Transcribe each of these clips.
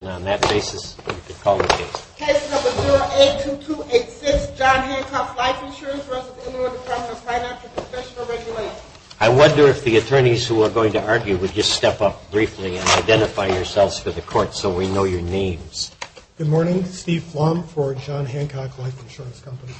I wonder if the attorneys who are going to argue would just step up briefly and identify yourselves for the court so we know your names. Good morning. Steve Flom for John Hancock Life Insurance Company.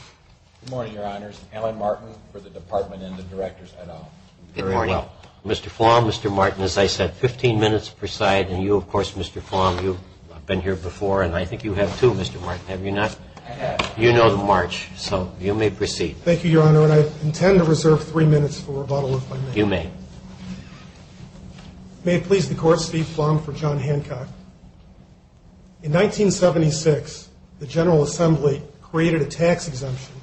Good morning, Your Honors. Alan Martin for the Department and the Directors et al. Good morning. Mr. Flom, Mr. Martin, as I said, 15 minutes per side, and you, of course, Mr. Flom, you've been here before, and I think you have too, Mr. Martin, have you not? I have. You know the march, so you may proceed. Thank you, Your Honor, and I intend to reserve three minutes for rebuttal, if I may. You may. May it please the Court, Steve Flom for John Hancock. In 1976, the General Assembly created a tax exemption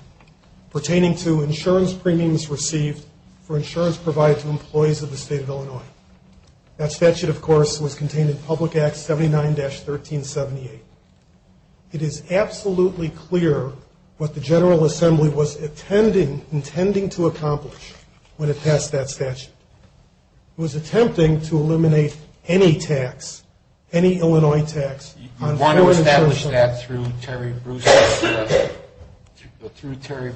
pertaining to insurance premiums received for insurance provided to employees of the State of Illinois. That statute, of course, was contained in Public Act 79-1378. It is absolutely clear what the General Assembly was intending to accomplish when it passed that statute. It was attempting to eliminate any tax, any Illinois tax. You want to establish that through Terry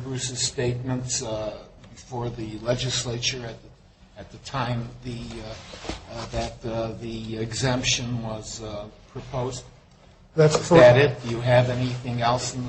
Bruce's statements before the legislature at the time that the exemption was proposed? That's correct. Is that it? Do you have anything else in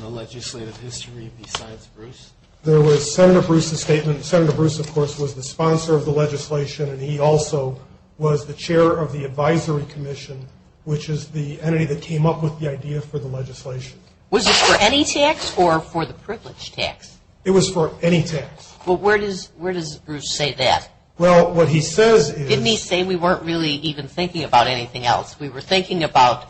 the legislative history besides Bruce? There was Senator Bruce's statement. Senator Bruce, of course, was the sponsor of the legislation, and he also was the chair of the advisory commission, which is the entity that came up with the idea for the legislation. Was this for any tax or for the privilege tax? It was for any tax. Well, where does Bruce say that? Well, what he says is — Didn't he say we weren't really even thinking about anything else? We were thinking about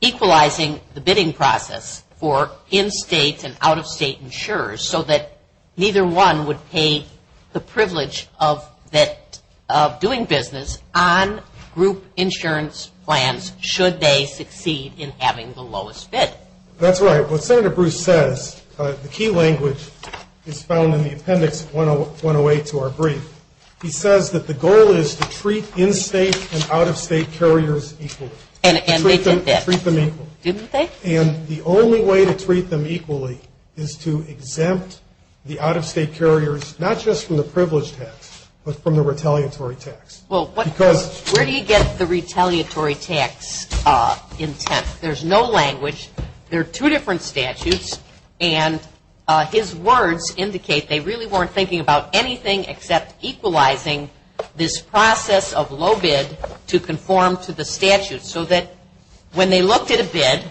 equalizing the bidding process for in-state and out-of-state insurers, so that neither one would pay the privilege of doing business on group insurance plans should they succeed in having the lowest bid. That's right. What Senator Bruce says, the key language is found in the appendix 108 to our brief. He says that the goal is to treat in-state and out-of-state carriers equally. And they did that. Treat them equally. Didn't they? And the only way to treat them equally is to exempt the out-of-state carriers, not just from the privilege tax, but from the retaliatory tax. Because — Well, where do you get the retaliatory tax intent? There's no language. There are two different statutes, and his words indicate they really weren't thinking about anything except equalizing this process of low bid to conform to the statute, so that when they looked at a bid,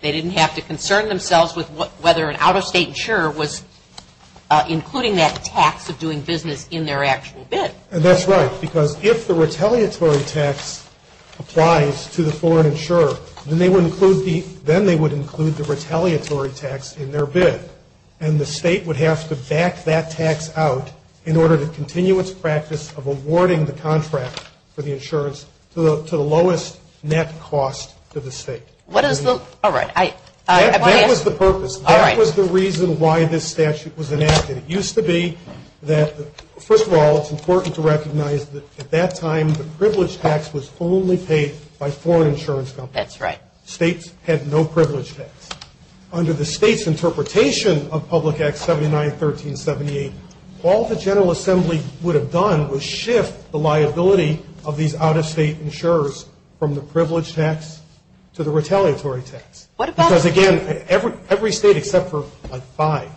they didn't have to concern themselves with whether an out-of-state insurer was including that tax of doing business in their actual bid. That's right, because if the retaliatory tax applies to the foreign insurer, then they would include the retaliatory tax in their bid. And the state would have to back that tax out in order to continue its practice of awarding the contract for the insurance to the lowest net cost to the state. What is the — All right. That was the purpose. All right. That was the reason why this statute was enacted. It used to be that — first of all, it's important to recognize that at that time, the privilege tax was only paid by foreign insurance companies. That's right. States had no privilege tax. Under the state's interpretation of Public Act 79-1378, all the General Assembly would have done was shift the liability of these out-of-state insurers from the privilege tax to the retaliatory tax. What about — Because, again, every state except for, like, five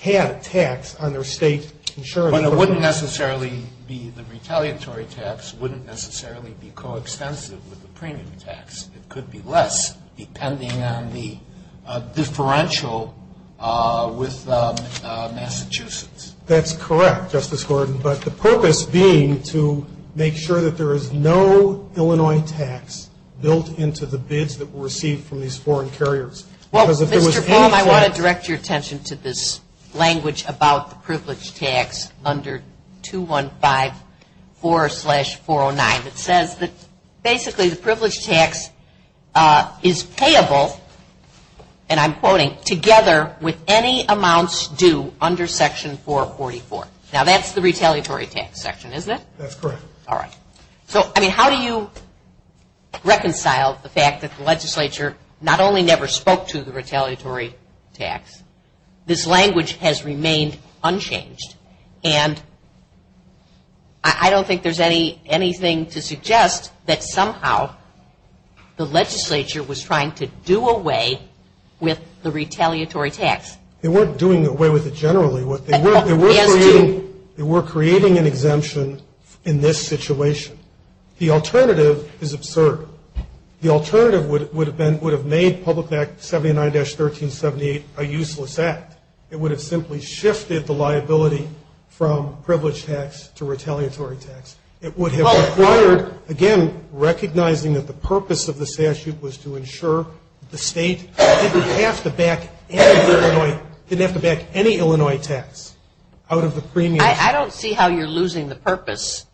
had a tax on their state insurance. But it wouldn't necessarily be — the retaliatory tax wouldn't necessarily be coextensive with the premium tax. It could be less, depending on the differential with Massachusetts. That's correct, Justice Gordon. But the purpose being to make sure that there is no Illinois tax built into the bids that were received from these foreign carriers. Because if there was any — Well, Mr. Baum, I want to direct your attention to this language about the privilege tax under 2154-409. It says that basically the privilege tax is payable, and I'm quoting, together with any amounts due under Section 444. Now, that's the retaliatory tax section, isn't it? That's correct. All right. So, I mean, how do you reconcile the fact that the legislature not only never spoke to the retaliatory tax, this language has remained unchanged. And I don't think there's anything to suggest that somehow the legislature was trying to do away with the retaliatory tax. They weren't doing away with it generally. They were creating an exemption in this situation. The alternative is absurd. The alternative would have made Public Act 79-1378 a useless act. It would have simply shifted the liability from privilege tax to retaliatory tax. It would have required, again, recognizing that the purpose of the statute was to ensure the state didn't have to back any Illinois tax out of the premiums. I don't see how you're losing the purpose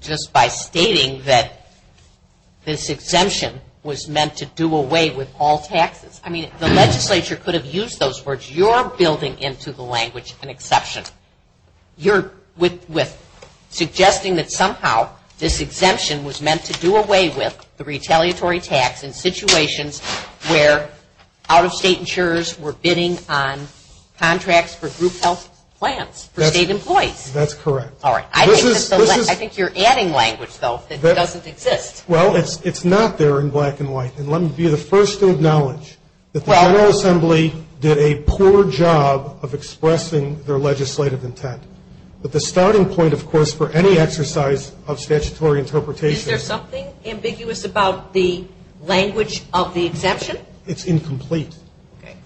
just by stating that this exemption was meant to do away with all taxes. I mean, the legislature could have used those words. You're building into the language an exception. You're suggesting that somehow this exemption was meant to do away with the retaliatory tax in situations where out-of-state insurers were bidding on contracts for group health plans for state employees. That's correct. All right. I think you're adding language, though, that doesn't exist. Well, it's not there in black and white. And let me be the first to acknowledge that the General Assembly did a poor job of expressing their legislative intent. But the starting point, of course, for any exercise of statutory interpretation. Is there something ambiguous about the language of the exemption? It's incomplete.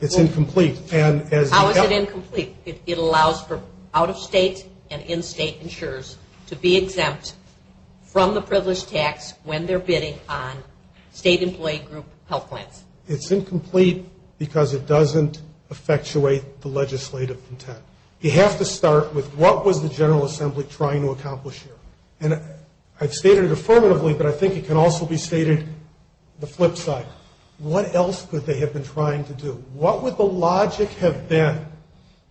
It's incomplete. How is it incomplete? It allows for out-of-state and in-state insurers to be exempt from the privileged tax when they're bidding on state employee group health plans. It's incomplete because it doesn't effectuate the legislative intent. You have to start with what was the General Assembly trying to accomplish here? And I've stated it affirmatively, but I think it can also be stated the flip side. What else could they have been trying to do? What would the logic have been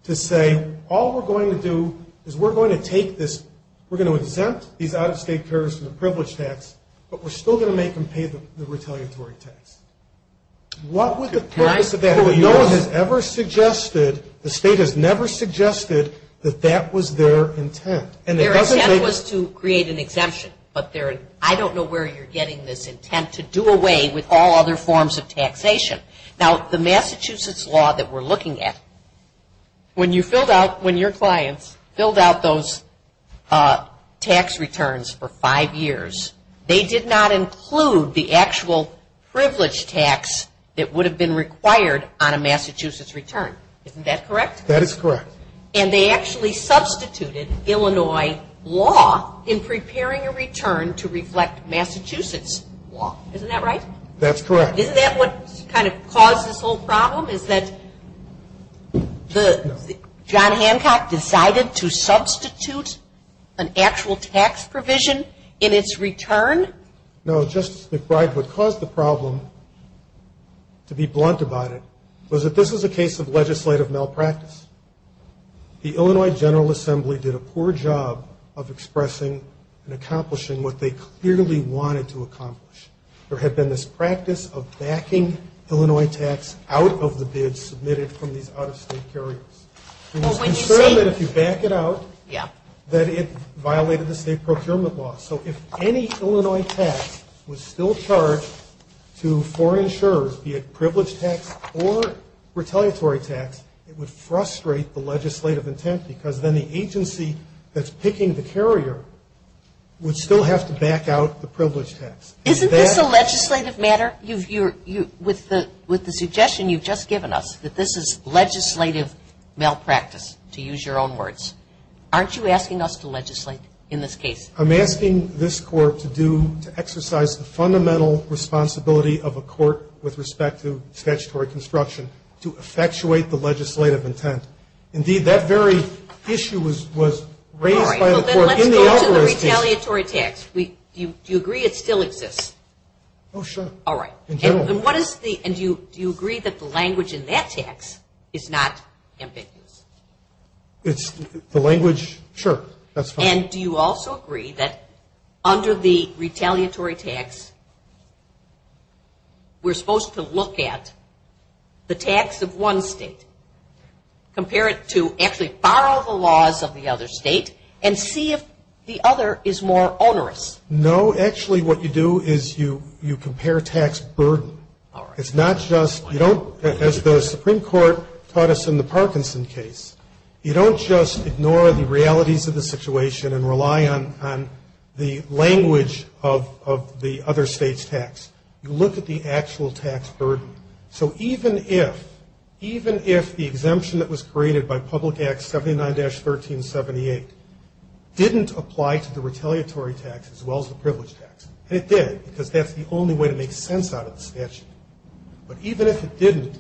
to say, all we're going to do is we're going to take this, we're going to exempt these out-of-state carriers from the privileged tax, but we're still going to make them pay the retaliatory tax? What would the purpose of that have been? No one has ever suggested, the state has never suggested that that was their intent. Their intent was to create an exemption. But I don't know where you're getting this intent to do away with all other forms of taxation. Now, the Massachusetts law that we're looking at, when your clients filled out those tax returns for five years, they did not include the actual privileged tax that would have been required on a Massachusetts return. Isn't that correct? That is correct. And they actually substituted Illinois law in preparing a return to reflect Massachusetts law. Isn't that right? That's correct. Isn't that what kind of caused this whole problem, is that John Hancock decided to substitute an actual tax provision in its return? No, Justice McBride, what caused the problem, to be blunt about it, was that this was a case of legislative malpractice. The Illinois General Assembly did a poor job of expressing and accomplishing what they clearly wanted to accomplish. There had been this practice of backing Illinois tax out of the bids submitted from these out-of-state carriers. It was concerned that if you back it out, that it violated the state procurement law. So if any Illinois tax was still charged to foreign insurers, be it privileged tax or retaliatory tax, it would frustrate the legislative intent because then the agency that's picking the carrier would still have to back out the privileged tax. Isn't this a legislative matter? With the suggestion you've just given us, that this is legislative malpractice, to use your own words, aren't you asking us to legislate in this case? I'm asking this Court to exercise the fundamental responsibility of a court with respect to statutory construction to effectuate the legislative intent. Indeed, that very issue was raised by the Court in the out-of-state case. Well, then let's go to the retaliatory tax. Do you agree it still exists? Oh, sure. All right. In general. And do you agree that the language in that tax is not ambiguous? The language? Sure, that's fine. And do you also agree that under the retaliatory tax, we're supposed to look at the tax of one state, compare it to actually borrow the laws of the other state, and see if the other is more onerous? No, actually what you do is you compare tax burden. All right. It's not just, you don't, as the Supreme Court taught us in the Parkinson case, you don't just ignore the realities of the situation and rely on the language of the other state's tax. You look at the actual tax burden. So even if, even if the exemption that was created by Public Act 79-1378 didn't apply to the retaliatory tax as well as the privilege tax, and it did because that's the only way to make sense out of the statute, but even if it didn't,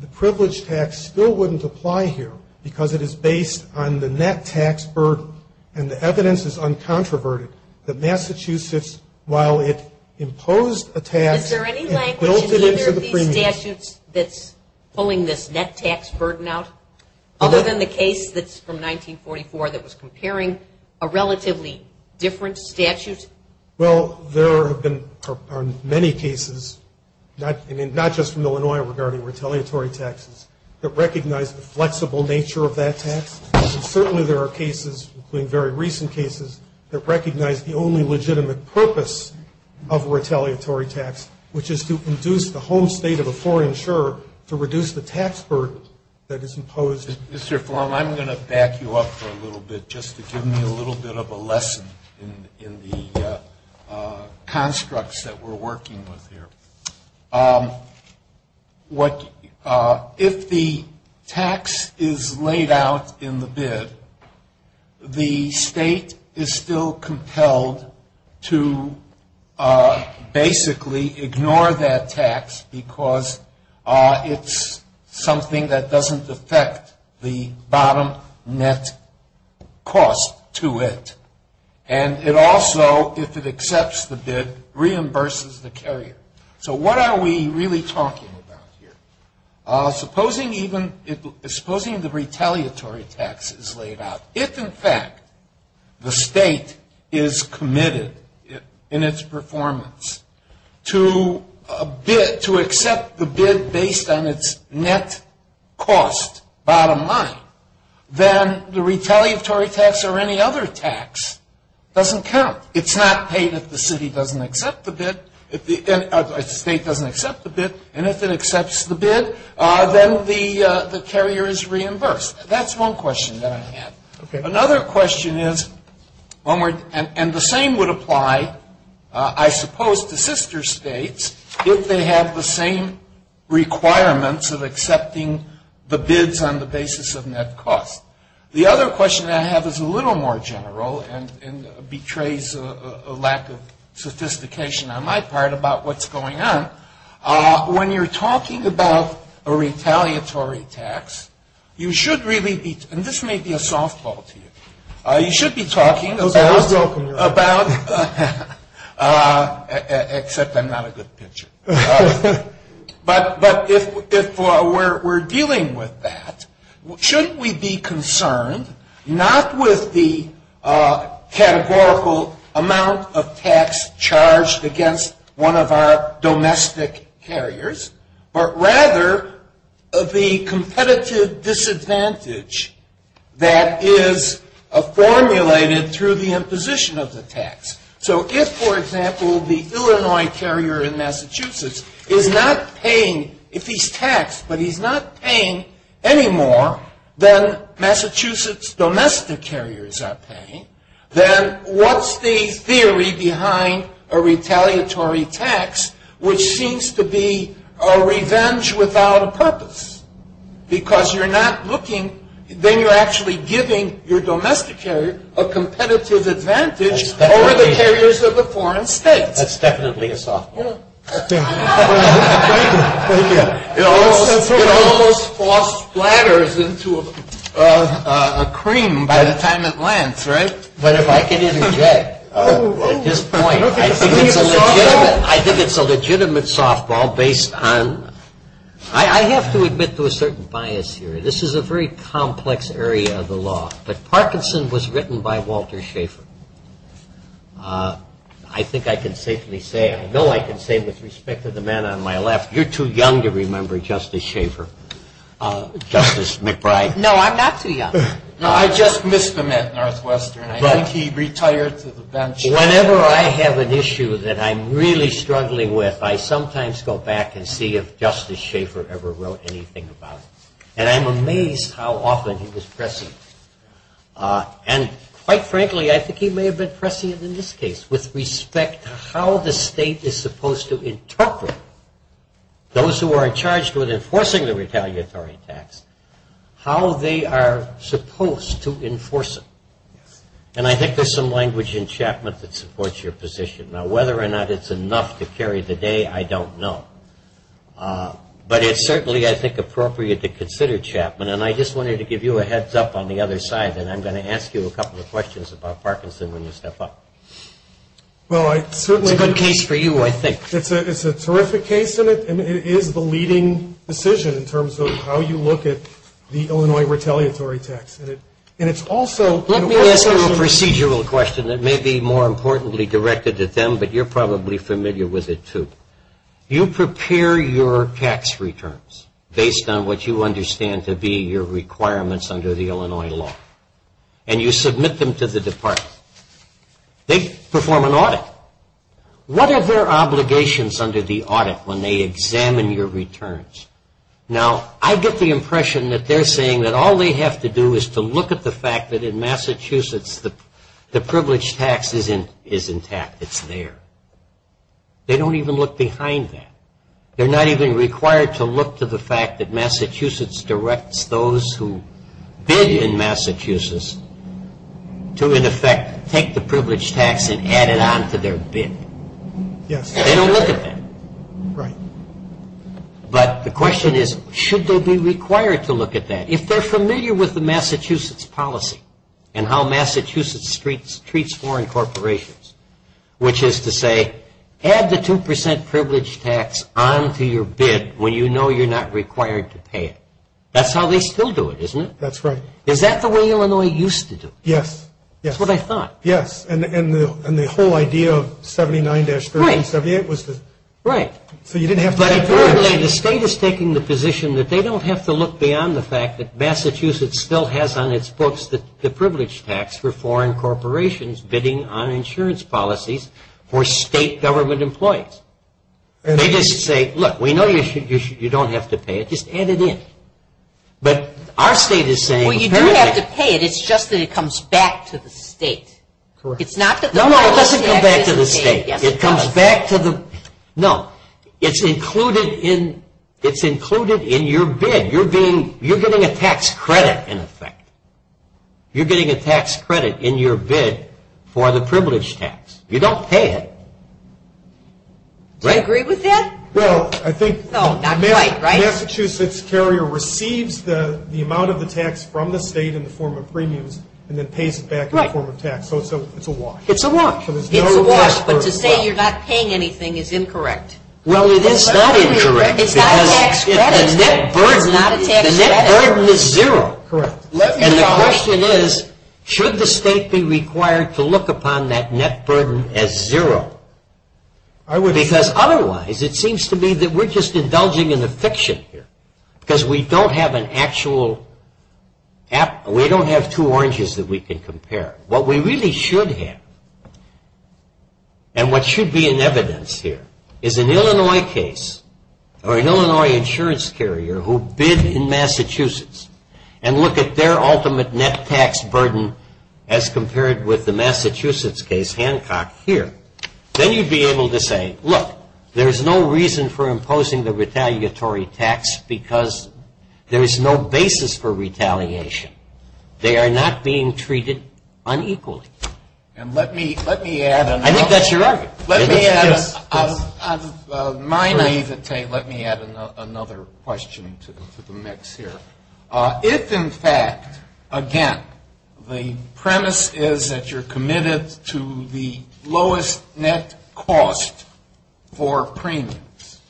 the privilege tax still wouldn't apply here because it is based on the net tax burden, and the evidence is uncontroverted that Massachusetts, while it imposed a tax Is there any language in either of these statutes that's pulling this net tax burden out, other than the case that's from 1944 that was comparing a relatively different statute? Well, there have been many cases, not just from Illinois regarding retaliatory taxes, that recognize the flexible nature of that tax. Certainly there are cases, including very recent cases, that recognize the only legitimate purpose of a retaliatory tax, which is to induce the home state of a foreign insurer to reduce the tax burden that is imposed. Mr. Flom, I'm going to back you up for a little bit, just to give me a little bit of a lesson in the constructs that we're working with here. If the tax is laid out in the bid, the state is still compelled to basically ignore that tax because it's something that doesn't affect the bottom net cost to it, and it also, if it accepts the bid, reimburses the carrier. So what are we really talking about here? Supposing the retaliatory tax is laid out. If, in fact, the state is committed in its performance to accept the bid based on its net cost, bottom line, then the retaliatory tax or any other tax doesn't count. It's not paid if the state doesn't accept the bid, and if it accepts the bid, then the carrier is reimbursed. That's one question that I have. Another question is, and the same would apply, I suppose, to sister states, if they have the same requirements of accepting the bids on the basis of net cost. The other question that I have is a little more general and betrays a lack of sophistication on my part about what's going on. When you're talking about a retaliatory tax, you should really be, and this may be a softball to you, you should be talking about, except I'm not a good pitcher. But if we're dealing with that, shouldn't we be concerned not with the categorical amount of tax charged against one of our domestic carriers, but rather the competitive disadvantage that is formulated through the imposition of the tax? So if, for example, the Illinois carrier in Massachusetts is not paying, if he's taxed, but he's not paying any more than Massachusetts domestic carriers are paying, then what's the theory behind a retaliatory tax, which seems to be a revenge without a purpose? Because you're not looking, then you're actually giving your domestic carrier a competitive advantage over the carriers of the foreign states. That's definitely a softball. It almost falls splatters into a cream by the time it lands, right? But if I can interject at this point, I think it's a legitimate softball based on, I have to admit to a certain bias here. This is a very complex area of the law. But Parkinson was written by Walter Schaefer. I think I can safely say, I know I can say with respect to the man on my left, you're too young to remember Justice Schaefer, Justice McBride. No, I'm not too young. No, I just missed him at Northwestern. I think he retired to the bench. Whenever I have an issue that I'm really struggling with, I sometimes go back and see if Justice Schaefer ever wrote anything about it. And I'm amazed how often he was pressing. And, quite frankly, I think he may have been pressing it in this case with respect to how the state is supposed to interpret those who are in charge with enforcing the retaliatory tax, how they are supposed to enforce it. And I think there's some language in Chapman that supports your position. Now, whether or not it's enough to carry the day, I don't know. But it's certainly, I think, appropriate to consider Chapman. And I just wanted to give you a heads up on the other side, and I'm going to ask you a couple of questions about Parkinson when you step up. Well, I certainly. It's a good case for you, I think. It's a terrific case, and it is the leading decision in terms of how you look at the Illinois retaliatory tax. And it's also. Let me ask you a procedural question that may be more importantly directed at them, but you're probably familiar with it, too. You prepare your tax returns based on what you understand to be your requirements under the Illinois law. And you submit them to the department. They perform an audit. What are their obligations under the audit when they examine your returns? Now, I get the impression that they're saying that all they have to do is to look at the fact that in Massachusetts the privileged tax is intact. It's there. They don't even look behind that. They're not even required to look to the fact that Massachusetts directs those who bid in Massachusetts to, in effect, take the privileged tax and add it on to their bid. They don't look at that. But the question is, should they be required to look at that? If they're familiar with the Massachusetts policy and how Massachusetts treats foreign corporations, which is to say, add the 2% privileged tax on to your bid when you know you're not required to pay it. That's how they still do it, isn't it? That's right. Is that the way Illinois used to do it? Yes. That's what I thought. Yes. And the whole idea of 79-1378 was to – Right. So you didn't have to – But apparently the state is taking the position that they don't have to look beyond the fact that for state government employees. They just say, look, we know you don't have to pay it. Just add it in. But our state is saying – Well, you do have to pay it. It's just that it comes back to the state. Correct. No, no, it doesn't come back to the state. Yes, it does. It comes back to the – No. It's included in your bid. You're getting a tax credit, in effect. You're getting a tax credit in your bid for the privileged tax. You don't pay it. Do I agree with that? Well, I think – No, not quite, right? Massachusetts carrier receives the amount of the tax from the state in the form of premiums and then pays it back in the form of tax. So it's a wash. It's a wash. It's a wash. But to say you're not paying anything is incorrect. Well, it is not incorrect. It's not a tax credit. The net burden is zero. Correct. And the question is, should the state be required to look upon that net burden as zero? Because otherwise, it seems to me that we're just indulging in the fiction here because we don't have an actual – we don't have two oranges that we can compare. What we really should have and what should be in evidence here is an Illinois case who bid in Massachusetts and look at their ultimate net tax burden as compared with the Massachusetts case, Hancock, here. Then you'd be able to say, look, there's no reason for imposing the retaliatory tax because there is no basis for retaliation. They are not being treated unequally. And let me add another – I think that's your argument. Let me add – on my naivete, let me add another question to the mix here. If, in fact, again, the premise is that you're committed to the lowest net cost for premiums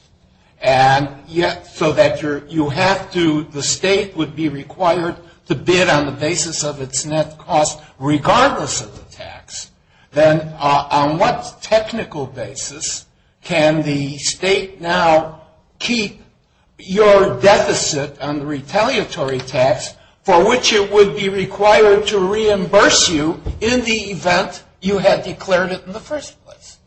and yet so that you have to – the state would be required to bid on the basis of its net cost regardless of the tax, then on what technical basis can the state now keep your deficit on the retaliatory tax for which it would be required to reimburse you in the event you had declared it in the first place?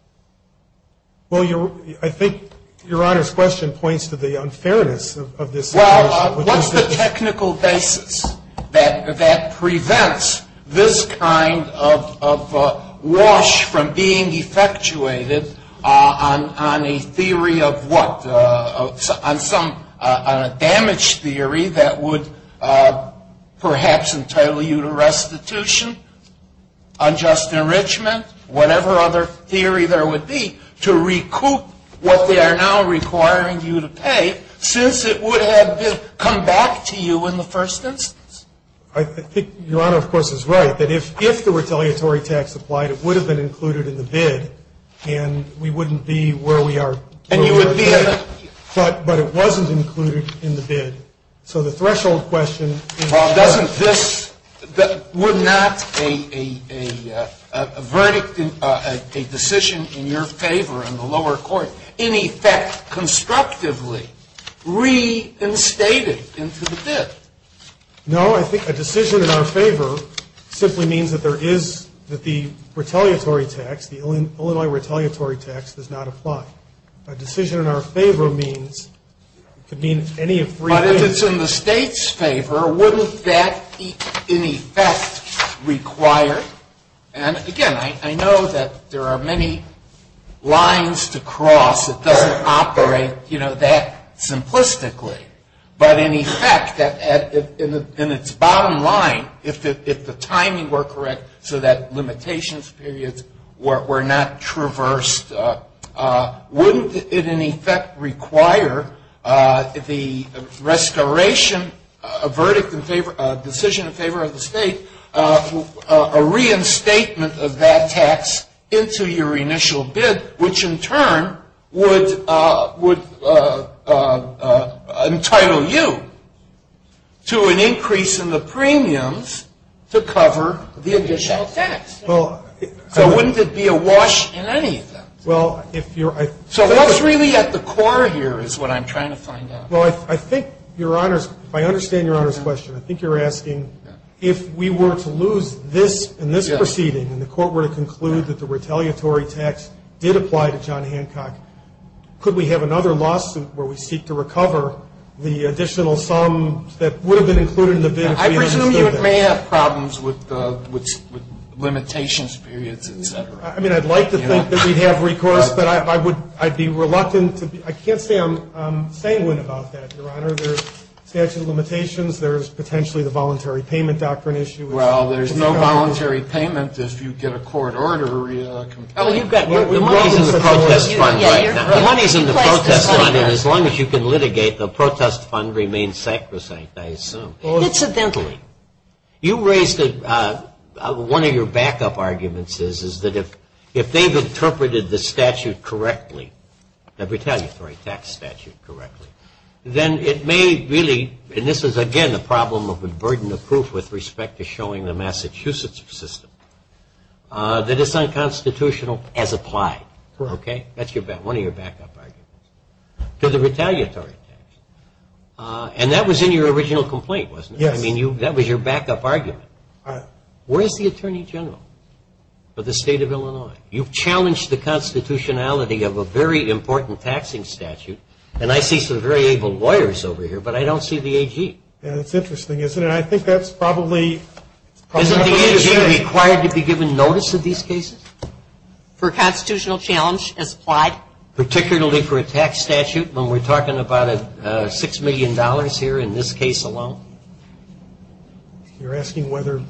Well, I think Your Honor's question points to the unfairness of this situation. Well, what's the technical basis that prevents this kind of wash from being effectuated on a theory of what? On some damage theory that would perhaps entitle you to restitution, unjust enrichment, whatever other theory there would be, to recoup what they are now requiring you to pay since it would have come back to you in the first instance? I think Your Honor, of course, is right, that if the retaliatory tax applied, it would have been included in the bid and we wouldn't be where we are today. And you would be at a – But it wasn't included in the bid. So the threshold question – Well, doesn't this – would not a verdict, a decision in your favor in the lower court in effect constructively reinstated into the bid? No, I think a decision in our favor simply means that there is – that the retaliatory tax, the Illinois retaliatory tax does not apply. A decision in our favor means – could mean any of three things. But if it's in the state's favor, wouldn't that in effect require – And again, I know that there are many lines to cross. It doesn't operate, you know, that simplistically. But in effect, in its bottom line, if the timing were correct so that limitations periods were not traversed, wouldn't it in effect require the restoration of verdict in favor – the restatement of that tax into your initial bid, which in turn would entitle you to an increase in the premiums to cover the additional tax? Well – So wouldn't it be a wash in any of them? Well, if you're – So what's really at the core here is what I'm trying to find out. Well, I think, Your Honors, if I understand Your Honors' question, I think you're asking if we were to lose this in this proceeding and the court were to conclude that the retaliatory tax did apply to John Hancock, could we have another lawsuit where we seek to recover the additional sum that would have been included in the bid if we had insisted that? I presume you may have problems with limitations periods, et cetera. I mean, I'd like to think that we'd have recourse, but I would – I'd be reluctant to – I can't say I'm sanguine about that, Your Honor. There's statute of limitations. There's potentially the voluntary payment doctrine issue. Well, there's no voluntary payment if you get a court order or a complaint. The money's in the protest fund right now. The money's in the protest fund, and as long as you can litigate, the protest fund remains sacrosanct, I assume. Incidentally, you raised – one of your backup arguments is that if they've interpreted the statute correctly, the retaliatory tax statute correctly, then it may really – and this is, again, a problem of the burden of proof with respect to showing the Massachusetts system that it's unconstitutional as applied. Okay? That's one of your backup arguments. To the retaliatory tax. And that was in your original complaint, wasn't it? Yes. I mean, that was your backup argument. Where is the attorney general for the state of Illinois? You've challenged the constitutionality of a very important taxing statute, and I see some very able lawyers over here, but I don't see the AG. That's interesting, isn't it? I think that's probably – Isn't the AG required to be given notice of these cases? For constitutional challenge as applied. Particularly for a tax statute when we're talking about $6 million here in this case alone? You're asking whether –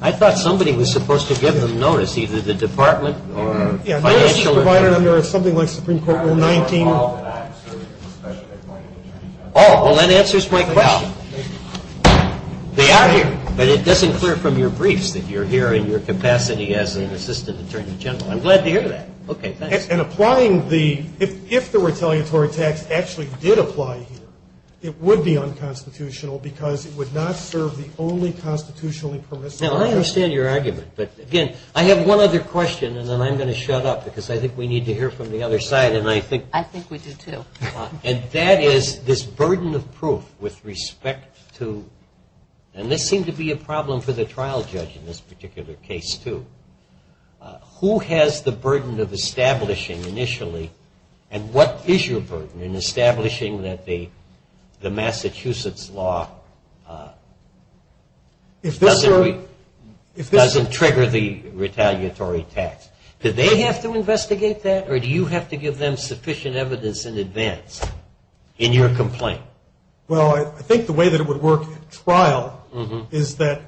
I thought somebody was supposed to give them notice, either the department or financial – Under something like Supreme Court Rule 19. Oh, well, that answers my question. They are here, but it doesn't clear from your briefs that you're here in your capacity as an assistant attorney general. I'm glad to hear that. Okay, thanks. And applying the – if the retaliatory tax actually did apply here, it would be unconstitutional because it would not serve the only constitutionally permissible purpose. Now, I understand your argument, but, again, I have one other question, and then I'm going to shut up because I think we need to hear from the other side, and I think – I think we do, too. And that is this burden of proof with respect to – and this seemed to be a problem for the trial judge in this particular case, too. Who has the burden of establishing initially, and what is your burden in establishing that the Massachusetts law doesn't trigger the retaliatory tax? Do they have to investigate that, or do you have to give them sufficient evidence in advance in your complaint? Well, I think the way that it would work at trial is that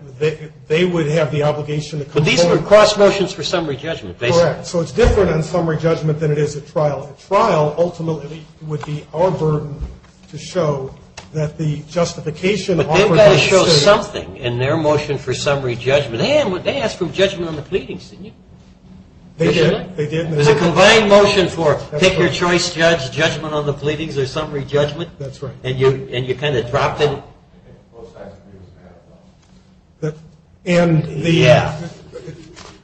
they would have the obligation to – But these are cross motions for summary judgment, basically. Correct. So it's different on summary judgment than it is at trial. At trial, ultimately, it would be our burden to show that the justification offered – But they've got to show something in their motion for summary judgment. They asked for judgment on the pleadings, didn't you? They did. There's a combined motion for pick-your-choice judge, judgment on the pleadings, or summary judgment. That's right. And you kind of dropped it. Yeah,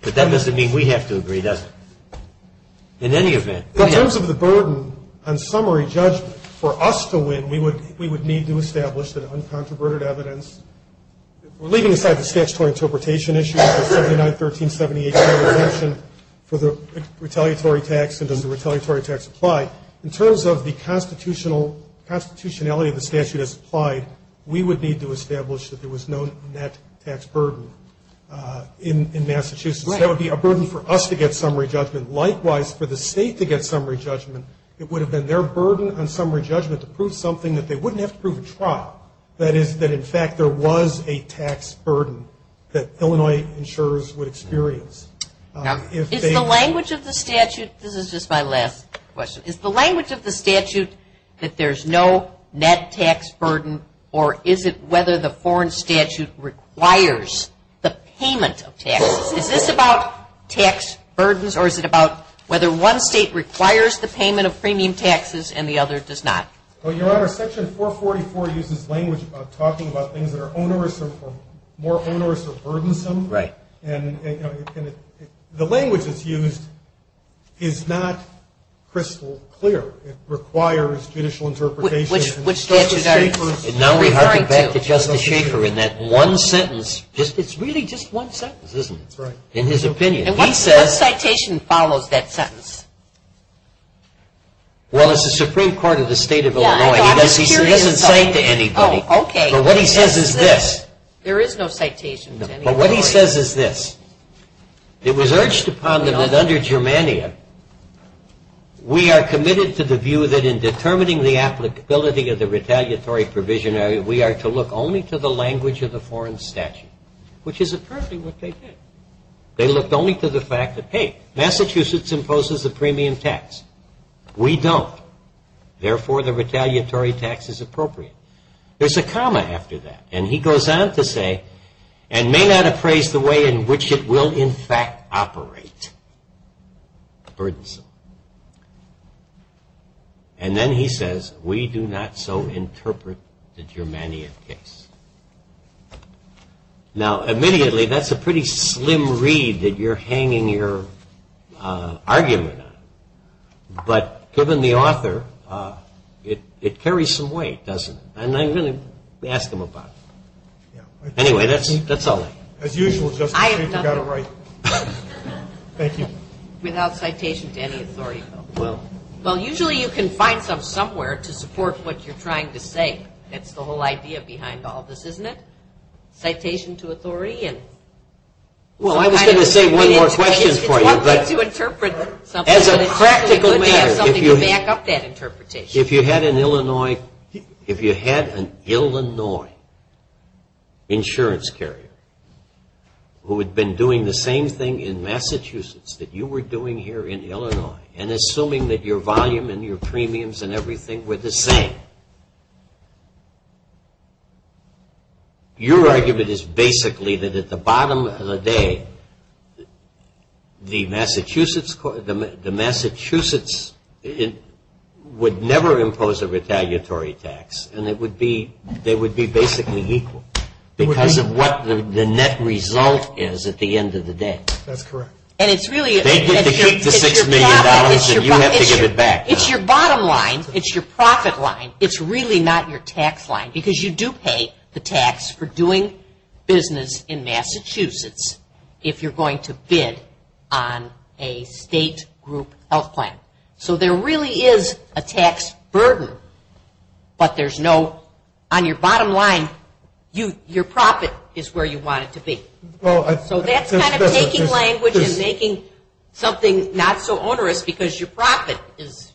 but that doesn't mean we have to agree, does it, in any event? In terms of the burden on summary judgment, for us to win, we would need to establish that uncontroverted evidence – We're leaving aside the statutory interpretation issue, the 79-13-78 kind of exemption for the retaliatory tax, and does the retaliatory tax apply? In terms of the constitutionality of the statute as applied, we would need to establish that there was no net tax burden in Massachusetts. Right. That would be a burden for us to get summary judgment. Likewise, for the State to get summary judgment, it would have been their burden on summary judgment to prove something that they wouldn't have to prove at trial. That is, that, in fact, there was a tax burden that Illinois insurers would experience. Is the language of the statute – this is just my last question – is the language of the statute that there's no net tax burden, or is it whether the foreign statute requires the payment of taxes? Is this about tax burdens, or is it about whether one state requires the payment of premium taxes and the other does not? Well, Your Honor, Section 444 uses language about talking about things that are onerous or more onerous or burdensome. Right. And the language that's used is not crystal clear. It requires judicial interpretation. Justice Schaefer is referring to – Now we have to get back to Justice Schaefer in that one sentence. It's really just one sentence, isn't it? That's right. In his opinion. And what citation follows that sentence? Well, it's the Supreme Court of the State of Illinois. He doesn't cite to anybody. Oh, okay. But what he says is this. There is no citation to anybody. But what he says is this. It was urged upon them that under Germania, we are committed to the view that in determining the applicability of the retaliatory provisionary, we are to look only to the language of the foreign statute, which is apparently what they did. They looked only to the fact that, hey, Massachusetts imposes a premium tax. We don't. Therefore, the retaliatory tax is appropriate. There's a comma after that. And he goes on to say, and may not appraise the way in which it will in fact operate. Burdensome. And then he says, we do not so interpret the Germania case. Now, immediately, that's a pretty slim read that you're hanging your argument on. But given the author, it carries some weight, doesn't it? And I really ask him about it. Anyway, that's all I have. As usual, Justice Ginsburg, you've got it right. Thank you. Without citation to any authority. Well, usually you can find some somewhere to support what you're trying to say. That's the whole idea behind all this, isn't it? Citation to authority. Well, I was going to say one more question for you. It's one thing to interpret something, but it's certainly good to have something to back up that interpretation. If you had an Illinois insurance carrier who had been doing the same thing in Massachusetts that you were doing here in Illinois, and assuming that your volume and your premiums and everything were the same, your argument is basically that at the bottom of the day, the Massachusetts would never impose a retaliatory tax, and they would be basically equal, because of what the net result is at the end of the day. That's correct. They get to keep the $6 million, and you have to give it back. It's your bottom line. It's your profit line. It's really not your tax line, because you do pay the tax for doing business in Massachusetts if you're going to bid on a state group health plan. So there really is a tax burden, but there's no – on your bottom line, your profit is where you want it to be. So that's kind of taking language and making something not so onerous, because your profit is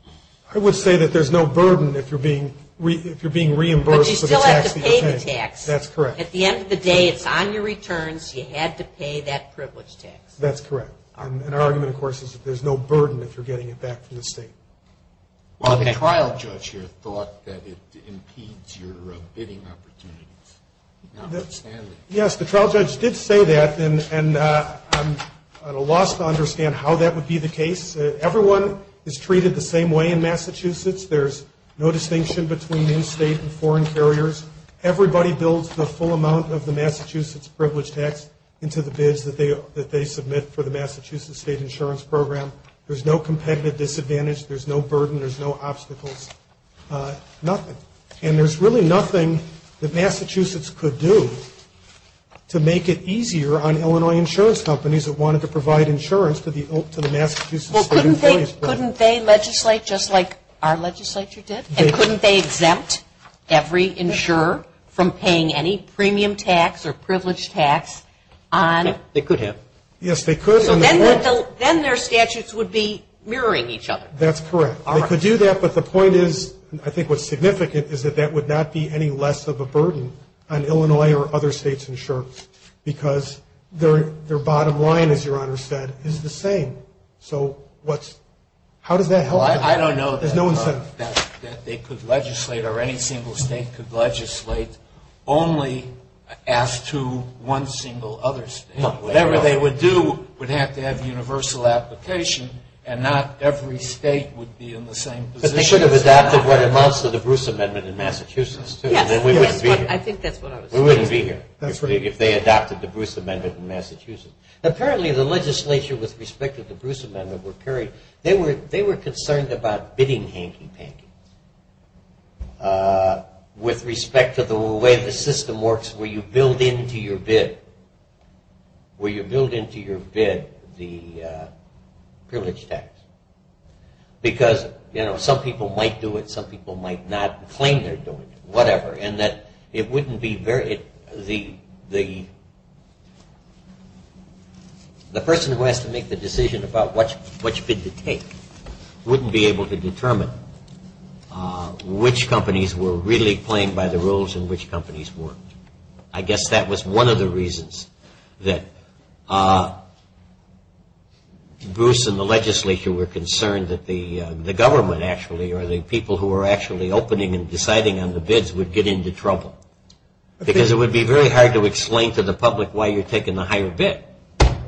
– I would say that there's no burden if you're being reimbursed for the tax that you're paying. But you still have to pay the tax. That's correct. At the end of the day, it's on your returns. You had to pay that privilege tax. That's correct. And our argument, of course, is that there's no burden if you're getting it back from the state. Well, the trial judge here thought that it impedes your bidding opportunities. Yes, the trial judge did say that, and I'm at a loss to understand how that would be the case. Everyone is treated the same way in Massachusetts. There's no distinction between in-state and foreign carriers. Everybody builds the full amount of the Massachusetts privilege tax into the bids that they submit for the Massachusetts State Insurance Program. There's no competitive disadvantage. There's no burden. There's no obstacles, nothing. And there's really nothing that Massachusetts could do to make it easier on Illinois insurance companies that wanted to provide insurance to the Massachusetts State Insurance Program. Well, couldn't they legislate just like our legislature did? And couldn't they exempt every insurer from paying any premium tax or privilege tax on – They could have. Yes, they could. So then their statutes would be mirroring each other. That's correct. They could do that, but the point is, I think what's significant, is that that would not be any less of a burden on Illinois or other states' insurance because their bottom line, as Your Honor said, is the same. So how does that help? Well, I don't know that they could legislate or any single state could legislate only as to one single other state. Whatever they would do would have to have universal application and not every state would be in the same position. But they should have adopted what amounts to the Bruce Amendment in Massachusetts, too, and then we wouldn't be here. Yes, I think that's what I was saying. We wouldn't be here if they adopted the Bruce Amendment in Massachusetts. Apparently the legislature, with respect to the Bruce Amendment, were concerned about bidding hanky-panky with respect to the way the system works where you build into your bid the privilege tax. Because, you know, some people might do it, some people might not claim they're doing it, whatever, and that it wouldn't be very – the person who has to make the decision about which bid to take wouldn't be able to determine which companies were really playing by the rules and which companies weren't. I guess that was one of the reasons that Bruce and the legislature were concerned that the government, actually, or the people who were actually opening and deciding on the bids would get into trouble. Because it would be very hard to explain to the public why you're taking the higher bid.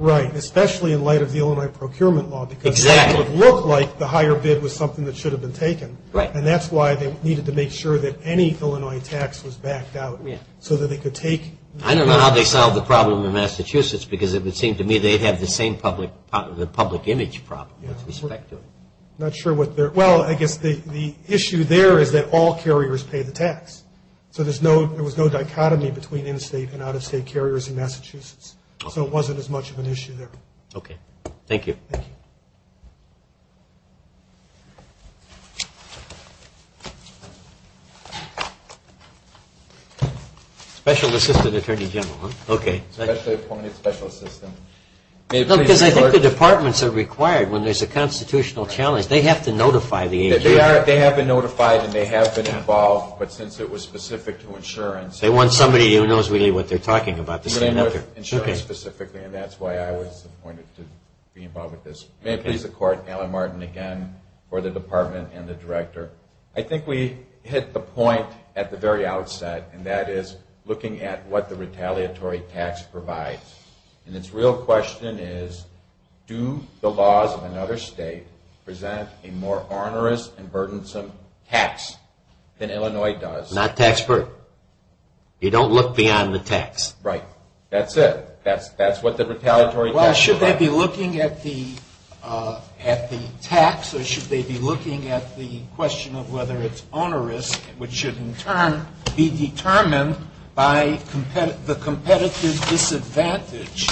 Right, especially in light of the Illinois procurement law. Exactly. Because it would look like the higher bid was something that should have been taken. Right. And that's why they needed to make sure that any Illinois tax was backed out so that they could take – I don't know how they solved the problem in Massachusetts, because it would seem to me they'd have the same public image problem with respect to it. Not sure what their – well, I guess the issue there is that all carriers pay the tax. So there was no dichotomy between in-state and out-of-state carriers in Massachusetts. So it wasn't as much of an issue there. Okay. Thank you. Thank you. Special Assistant Attorney General, huh? Okay. Specially appointed special assistant. No, because I think the departments are required when there's a constitutional challenge. They have to notify the agency. They have been notified and they have been involved, but since it was specific to insurance – They want somebody who knows really what they're talking about. And that's why I was appointed to be involved with this. May it please the Court, Alan Martin again for the department and the director. I think we hit the point at the very outset, and that is looking at what the retaliatory tax provides. And its real question is, do the laws of another state present a more onerous and burdensome tax than Illinois does? Not tax burden. You don't look beyond the tax. Right. That's it. That's what the retaliatory tax provides. Well, should they be looking at the tax or should they be looking at the question of whether it's onerous, which should in turn be determined by the competitive disadvantage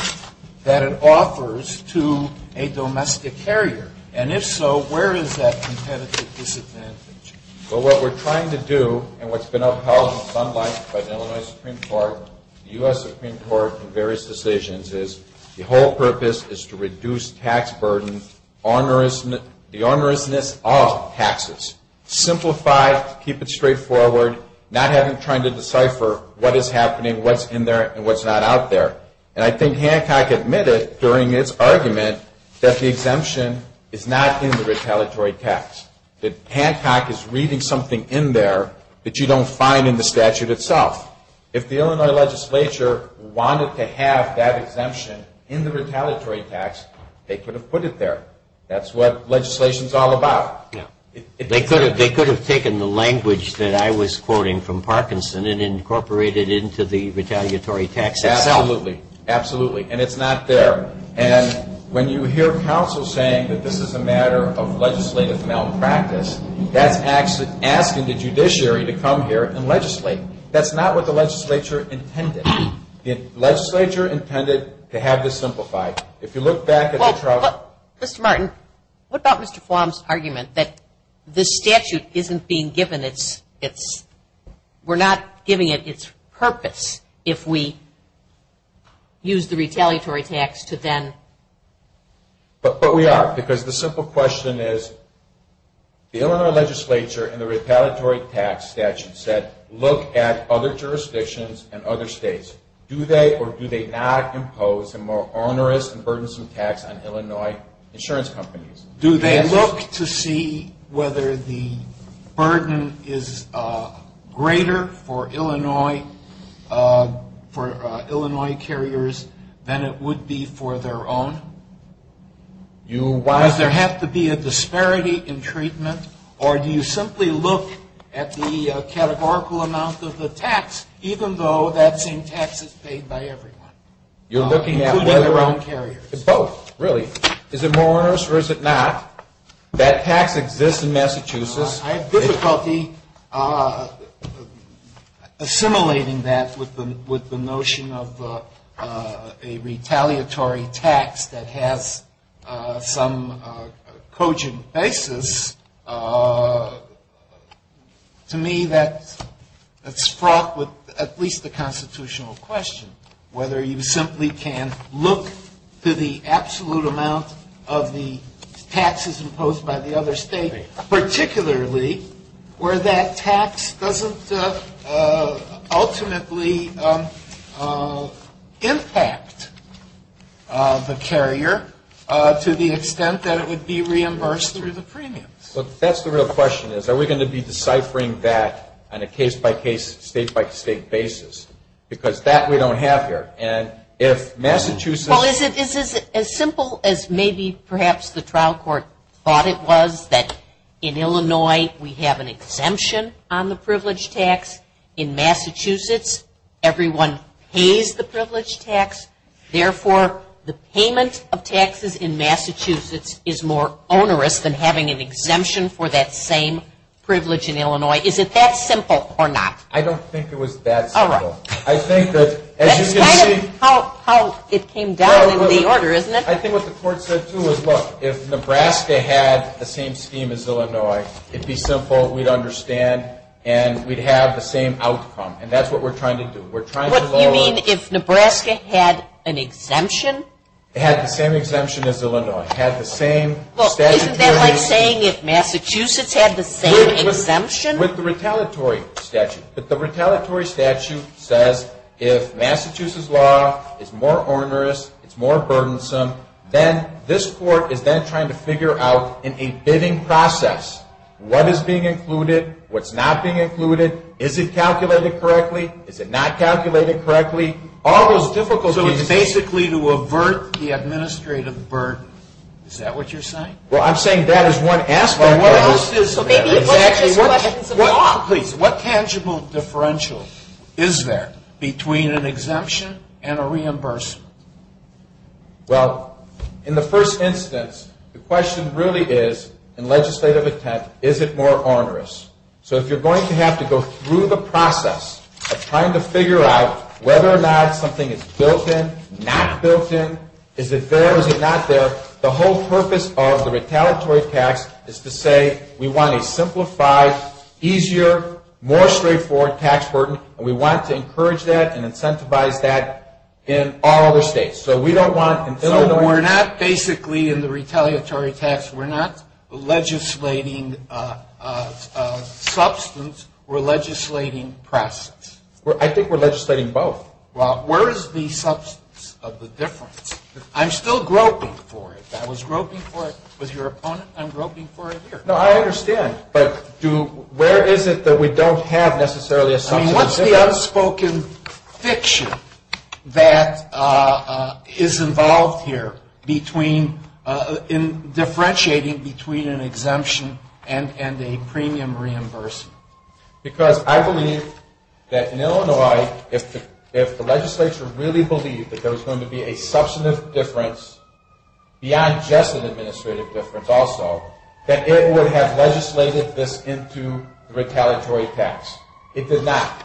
that it offers to a domestic carrier? And if so, where is that competitive disadvantage? Well, what we're trying to do and what's been upheld in some light by the Illinois Supreme Court, the U.S. Supreme Court in various decisions is the whole purpose is to reduce tax burden, the onerousness of taxes. Simplify, keep it straightforward, not having to try to decipher what is happening, what's in there and what's not out there. And I think Hancock admitted during its argument that the exemption is not in the retaliatory tax. That Hancock is reading something in there that you don't find in the statute itself. If the Illinois legislature wanted to have that exemption in the retaliatory tax, they could have put it there. That's what legislation is all about. They could have taken the language that I was quoting from Parkinson and incorporated it into the retaliatory tax itself. Absolutely. Absolutely. And it's not there. And when you hear counsel saying that this is a matter of legislative malpractice, that's actually asking the judiciary to come here and legislate. That's not what the legislature intended. The legislature intended to have this simplified. If you look back at the trial. Mr. Martin, what about Mr. Flom's argument that the statute isn't being given its – But we are because the simple question is the Illinois legislature and the retaliatory tax statute said look at other jurisdictions and other states. Do they or do they not impose a more onerous and burdensome tax on Illinois insurance companies? Do they look to see whether the burden is greater for Illinois carriers than it would be for their own? Does there have to be a disparity in treatment or do you simply look at the categorical amount of the tax, even though that same tax is paid by everyone, including their own carriers? Both, really. Is it more onerous or is it not? That tax exists in Massachusetts. I have difficulty assimilating that with the notion of a retaliatory tax that has some cogent basis. To me, that's fraught with at least the constitutional question, whether you simply can look to the absolute amount of the taxes imposed by the other state, particularly where that tax doesn't ultimately impact the carrier to the extent that it would be reimbursed through the premiums. That's the real question is are we going to be deciphering that on a case-by-case, state-by-state basis because that we don't have here. Is it as simple as maybe perhaps the trial court thought it was, that in Illinois we have an exemption on the privilege tax? In Massachusetts, everyone pays the privilege tax. Therefore, the payment of taxes in Massachusetts is more onerous than having an exemption for that same privilege in Illinois. Is it that simple or not? I don't think it was that simple. That's kind of how it came down in the order, isn't it? I think what the court said, too, was, look, if Nebraska had the same scheme as Illinois, it'd be simple, we'd understand, and we'd have the same outcome. And that's what we're trying to do. What do you mean if Nebraska had an exemption? It had the same exemption as Illinois. It had the same statute. Isn't that like saying if Massachusetts had the same exemption? With the retaliatory statute. But the retaliatory statute says if Massachusetts' law is more onerous, it's more burdensome, then this court is then trying to figure out in a bidding process what is being included, what's not being included, is it calculated correctly, is it not calculated correctly, all those difficult pieces. So it's basically to avert the administrative burden. Is that what you're saying? Well, I'm saying that is one aspect. So maybe it wasn't just questions of law. What tangible differential is there between an exemption and a reimbursement? Well, in the first instance, the question really is, in legislative intent, is it more onerous? So if you're going to have to go through the process of trying to figure out whether or not something is built in, not built in, is it there, is it not there, the whole purpose of the retaliatory tax is to say we want a simplified, easier, more straightforward tax burden, and we want to encourage that and incentivize that in all other states. So we don't want in Illinois. So we're not basically in the retaliatory tax, we're not legislating substance, we're legislating process. I think we're legislating both. Well, where is the substance of the difference? I'm still groping for it. I was groping for it with your opponent, I'm groping for it here. No, I understand. But where is it that we don't have necessarily a substance of difference? I mean, what's the unspoken fiction that is involved here between in differentiating between an exemption and a premium reimbursement? Because I believe that in Illinois, if the legislature really believed that there was going to be a substantive difference beyond just an administrative difference also, that it would have legislated this into retaliatory tax. It did not.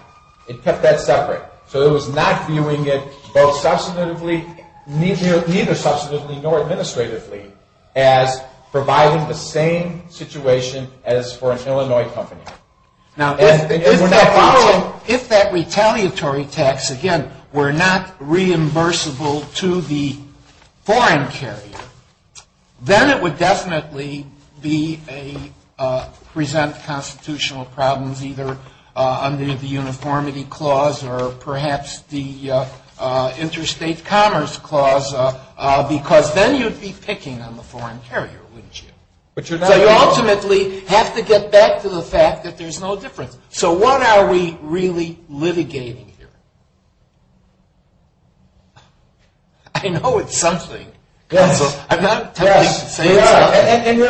It kept that separate. So it was not viewing it both substantively, neither substantively nor administratively, as providing the same situation as for an Illinois company. Now, if that retaliatory tax, again, were not reimbursable to the foreign carrier, then it would definitely present constitutional problems, either under the uniformity clause or perhaps the interstate commerce clause, because then you'd be picking on the foreign carrier, wouldn't you? So you ultimately have to get back to the fact that there's no difference. So what are we really litigating here? I know it's something. I'm not trying to say it's something. It's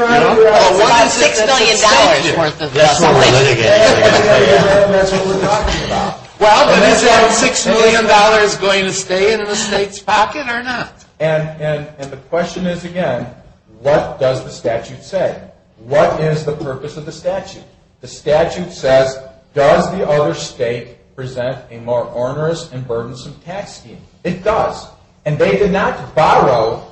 worth $6 million. That's what we're litigating. That's what we're talking about. Well, but is that $6 million going to stay in the state's pocket or not? And the question is, again, what does the statute say? What is the purpose of the statute? The statute says, does the other state present a more onerous and burdensome tax scheme? It does. And they did not borrow.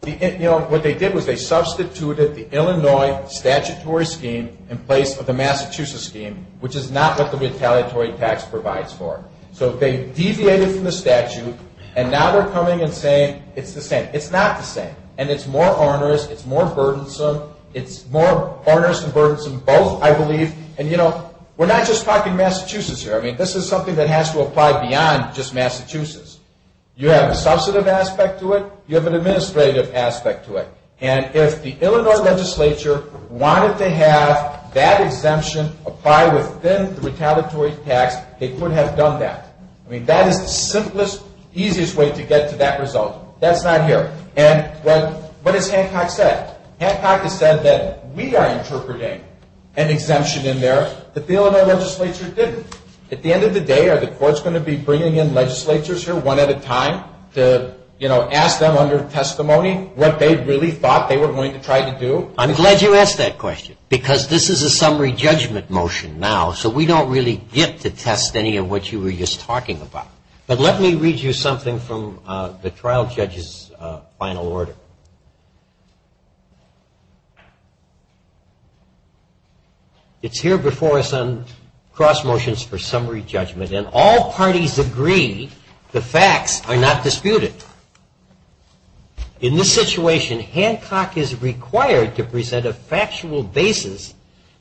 What they did was they substituted the Illinois statutory scheme in place of the Massachusetts scheme, which is not what the retaliatory tax provides for. So they deviated from the statute, and now they're coming and saying it's the same. It's not the same. And it's more onerous. It's more burdensome. It's more onerous and burdensome both, I believe. And, you know, we're not just talking Massachusetts here. I mean, this is something that has to apply beyond just Massachusetts. You have a substantive aspect to it. You have an administrative aspect to it. And if the Illinois legislature wanted to have that exemption apply within the retaliatory tax, they could have done that. I mean, that is the simplest, easiest way to get to that result. That's not here. And what has Hancock said? Hancock has said that we are interpreting an exemption in there that the Illinois legislature didn't. At the end of the day, are the courts going to be bringing in legislatures here one at a time to, you know, ask them under testimony what they really thought they were going to try to do? I'm glad you asked that question because this is a summary judgment motion now, so we don't really get to test any of what you were just talking about. But let me read you something from the trial judge's final order. It's here before us on cross motions for summary judgment. And all parties agree the facts are not disputed. In this situation, Hancock is required to present a factual basis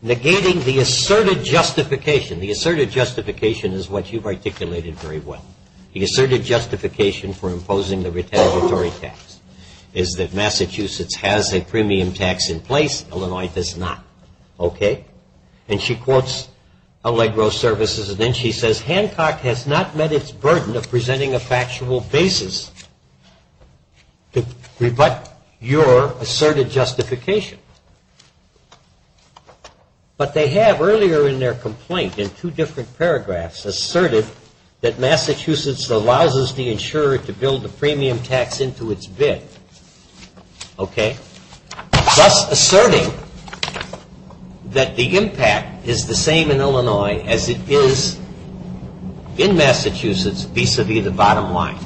negating the asserted justification. The asserted justification is what you've articulated very well. The asserted justification for imposing the retaliatory tax is that Massachusetts has a premium tax in place. Illinois does not. Okay? And she quotes Allegro Services. And then she says, Hancock has not met its burden of presenting a factual basis to rebut your asserted justification. But they have earlier in their complaint, in two different paragraphs, asserted that Massachusetts allows the insurer to build a premium tax into its bid. Okay? Thus asserting that the impact is the same in Illinois as it is in Massachusetts vis-a-vis the bottom line.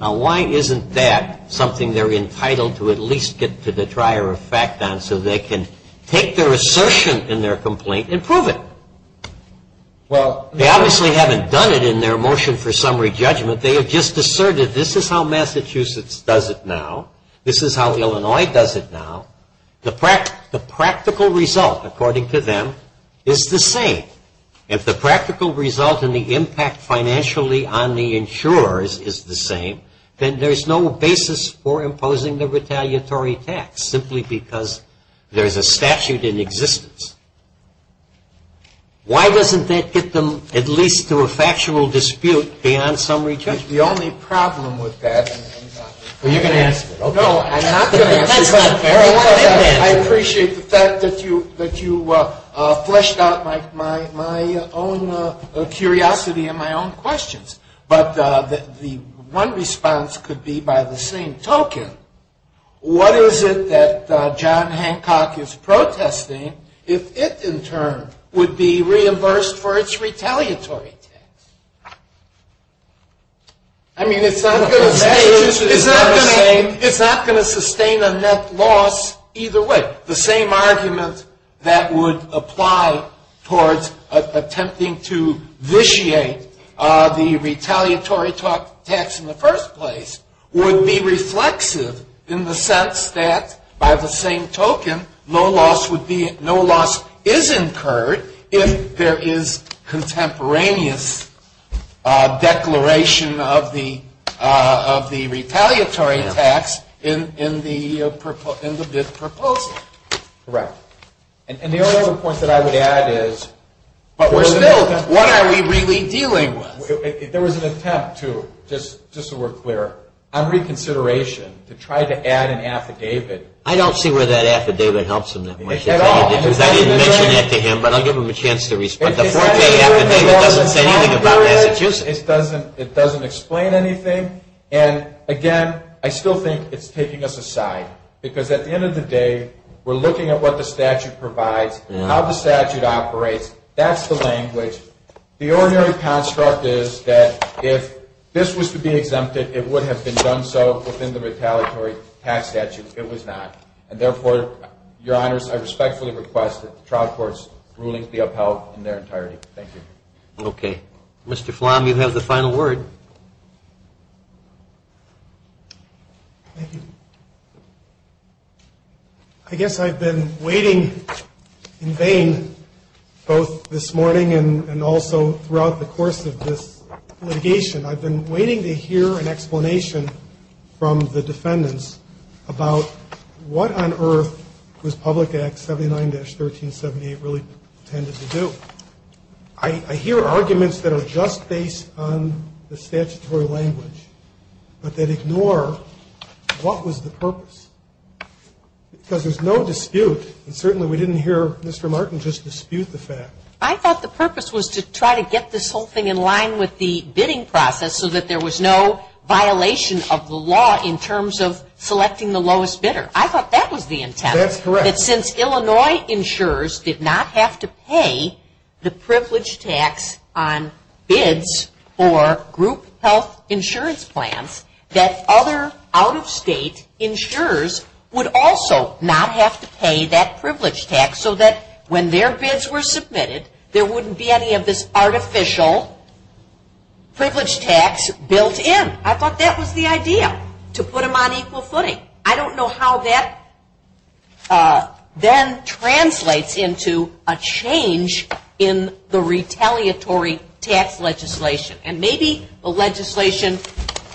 Now, why isn't that something they're entitled to at least get to the trier of fact on so they can take their assertion in their complaint and prove it? Well, they obviously haven't done it in their motion for summary judgment. They have just asserted this is how Massachusetts does it now. This is how Illinois does it now. The practical result, according to them, is the same. If the practical result and the impact financially on the insurers is the same, then there's no basis for imposing the retaliatory tax simply because there's a statute in existence. Why doesn't that get them at least to a factual dispute beyond summary judgment? The only problem with that, and I'm sorry. Well, you can ask it. No, I'm not going to ask it. That's not fair. I appreciate the fact that you fleshed out my own curiosity and my own questions. But the one response could be by the same token, what is it that John Hancock is protesting if it, in turn, would be reimbursed for its retaliatory tax? I mean, it's not going to sustain a net loss either way. The same argument that would apply towards attempting to vitiate the retaliatory tax in the first place would be reflexive in the sense that, by the same token, no loss is incurred if there is contemporaneous declaration of the retaliatory tax in the bid proposal. Correct. And the only other point that I would add is, but we're still, what are we really dealing with? There was an attempt to, just so we're clear, on reconsideration to try to add an affidavit. I don't see where that affidavit helps in that much. At all. Because I didn't mention that to him, but I'll give him a chance to respond. The four-day affidavit doesn't say anything about Massachusetts. It doesn't explain anything. And, again, I still think it's taking us aside because, at the end of the day, we're looking at what the statute provides, how the statute operates. That's the language. The ordinary construct is that if this was to be exempted, it would have been done so within the retaliatory tax statute. It was not. And, therefore, Your Honors, I respectfully request that the trial court's rulings be upheld in their entirety. Thank you. Okay. Mr. Flom, you have the final word. Thank you. I guess I've been waiting in vain both this morning and also throughout the course of this litigation. I've been waiting to hear an explanation from the defendants about what on earth was Public Act 79-1378 really intended to do. I hear arguments that are just based on the statutory language, but that ignore what was the purpose. Because there's no dispute, and certainly we didn't hear Mr. Martin just dispute the fact. I thought the purpose was to try to get this whole thing in line with the bidding process so that there was no violation of the law in terms of selecting the lowest bidder. I thought that was the intent. That's correct. That since Illinois insurers did not have to pay the privilege tax on bids for group health insurance plans, that other out-of-state insurers would also not have to pay that privilege tax so that when their bids were submitted, there wouldn't be any of this artificial privilege tax built in. I thought that was the idea, to put them on equal footing. I don't know how that then translates into a change in the retaliatory tax legislation. Maybe the legislation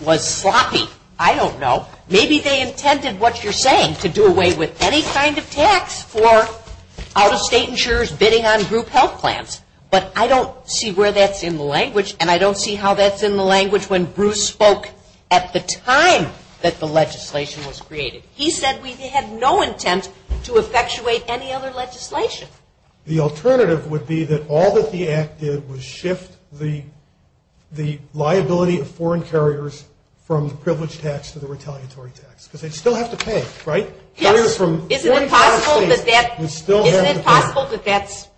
was sloppy. I don't know. Maybe they intended what you're saying to do away with any kind of tax for out-of-state insurers bidding on group health plans. But I don't see where that's in the language, and I don't see how that's in the language when Bruce spoke at the time that the legislation was created. He said we had no intent to effectuate any other legislation. The alternative would be that all that the Act did was shift the liability of foreign carriers from the privilege tax to the retaliatory tax because they'd still have to pay, right? Yes. Carriers from foreign countries would still have to pay. Isn't it possible that that's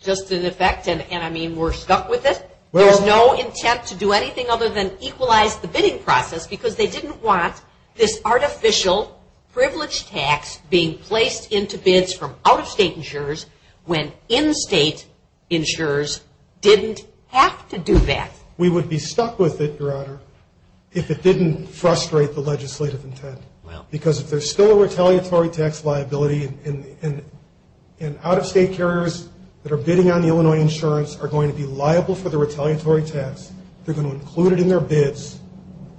just in effect and, I mean, we're stuck with it? There's no intent to do anything other than equalize the bidding process because they didn't want this artificial privilege tax being placed into bids from out-of-state insurers when in-state insurers didn't have to do that. We would be stuck with it, Your Honor, if it didn't frustrate the legislative intent. Because if there's still a retaliatory tax liability and out-of-state carriers that are bidding on the retaliatory tax, they're going to include it in their bids,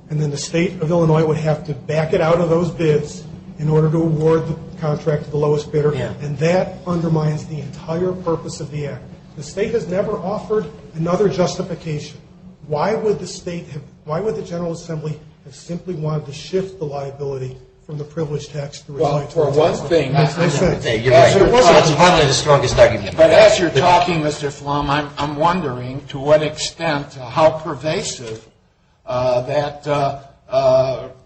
and then the state of Illinois would have to back it out of those bids in order to award the contract to the lowest bidder, and that undermines the entire purpose of the Act. The state has never offered another justification. Why would the state have ñ why would the General Assembly have simply wanted to shift the liability from the privilege tax to the retaliatory tax? Well, for one thing ñ You're right. That's partly the strongest argument. But as you're talking, Mr. Flom, I'm wondering to what extent, how pervasive that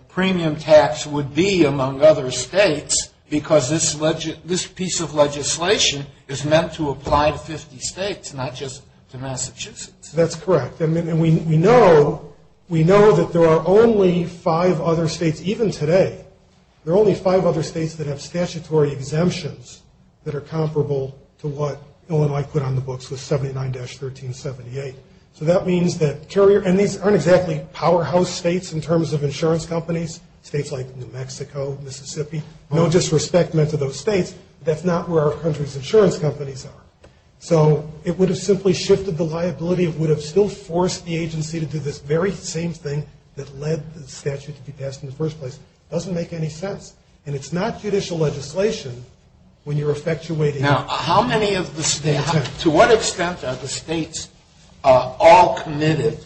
premium tax would be among other states, because this piece of legislation is meant to apply to 50 states, not just to Massachusetts. That's correct. And we know that there are only five other states, even today, that have statutory exemptions that are comparable to what Illinois put on the books with 79-1378. So that means that carrier ñ and these aren't exactly powerhouse states in terms of insurance companies, states like New Mexico, Mississippi, no disrespect meant to those states, but that's not where our country's insurance companies are. So it would have simply shifted the liability, it would have still forced the agency to do this very same thing that led the statute to be passed in the first place. It doesn't make any sense. And it's not judicial legislation when you're effectuating it. Now, how many of the states ñ to what extent are the states all committed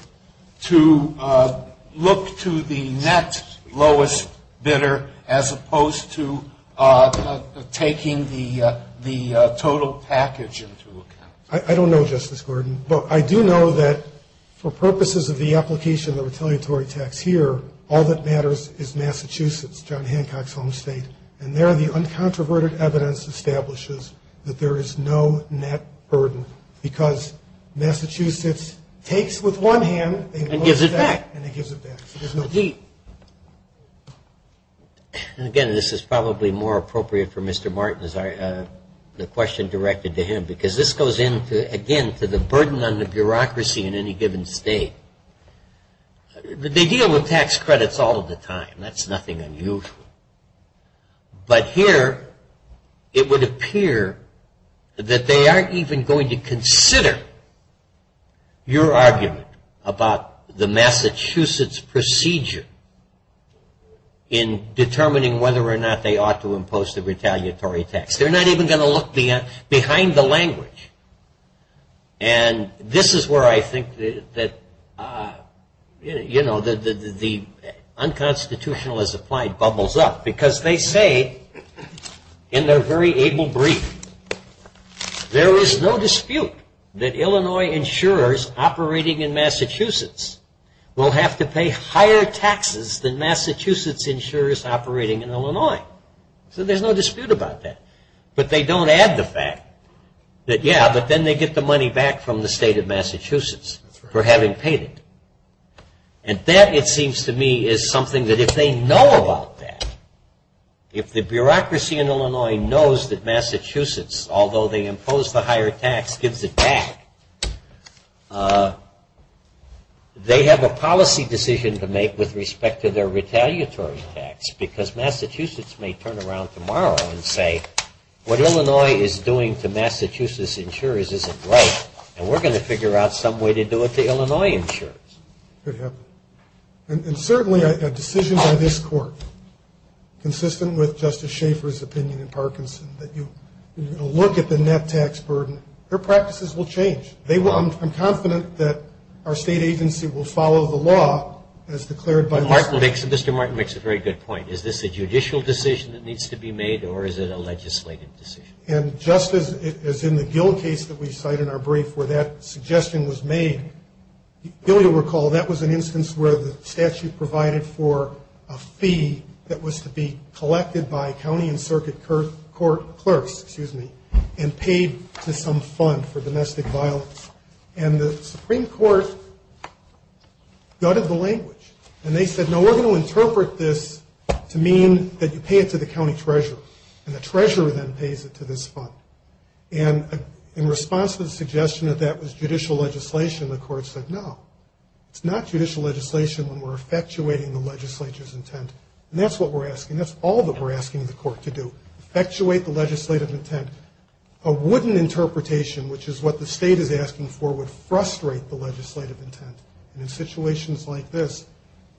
to look to the net lowest bidder, as opposed to taking the total package into account? I don't know, Justice Gordon. But I do know that for purposes of the application of the retaliatory tax here, all that matters is Massachusetts, John Hancock's home state. And there the uncontroverted evidence establishes that there is no net burden because Massachusetts takes with one hand and gives it back. And gives it back. And it gives it back. And again, this is probably more appropriate for Mr. Martin, the question directed to him, because this goes in, again, to the burden on the bureaucracy in any given state. They deal with tax credits all the time. That's nothing unusual. But here it would appear that they aren't even going to consider your argument about the Massachusetts procedure in determining whether or not they ought to impose the retaliatory tax. They're not even going to look behind the language. And this is where I think that, you know, the unconstitutional as applied bubbles up. Because they say in their very able brief, there is no dispute that Illinois insurers operating in Massachusetts will have to pay higher taxes than Massachusetts insurers operating in Illinois. So there's no dispute about that. But they don't add the fact that, yeah, but then they get the money back from the state of Massachusetts for having paid it. And that, it seems to me, is something that if they know about that, if the bureaucracy in Illinois knows that Massachusetts, although they impose the higher tax, gives it back, they have a policy decision to make with respect to their retaliatory tax. Because Massachusetts may turn around tomorrow and say, what Illinois is doing to Massachusetts insurers isn't right, and we're going to figure out some way to do it to Illinois insurers. And certainly a decision by this court, consistent with Justice Schaffer's opinion in Parkinson, that you look at the net tax burden, their practices will change. I'm confident that our state agency will follow the law as declared by this court. Mr. Martin makes a very good point. Is this a judicial decision that needs to be made, or is it a legislative decision? And just as in the Gill case that we cite in our brief where that suggestion was made, you'll recall that was an instance where the statute provided for a fee that was to be collected by county and circuit court clerks and paid to some fund for domestic violence. And the Supreme Court gutted the language. And they said, no, we're going to interpret this to mean that you pay it to the county treasurer. And the treasurer then pays it to this fund. And in response to the suggestion that that was judicial legislation, the court said, no. It's not judicial legislation when we're effectuating the legislature's intent. And that's what we're asking. That's all that we're asking the court to do, effectuate the legislative intent. A wooden interpretation, which is what the state is asking for, would frustrate the legislative intent. And in situations like this,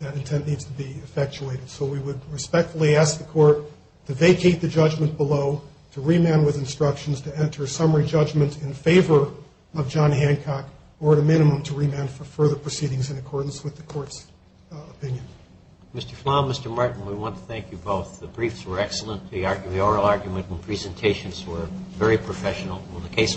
that intent needs to be effectuated. So we would respectfully ask the court to vacate the judgment below, to remand with instructions, to enter a summary judgment in favor of John Hancock, or at a minimum to remand for further proceedings in accordance with the court's opinion. Mr. Flom, Mr. Martin, we want to thank you both. The briefs were excellent. The oral argument and presentations were very professional. The case will be heard.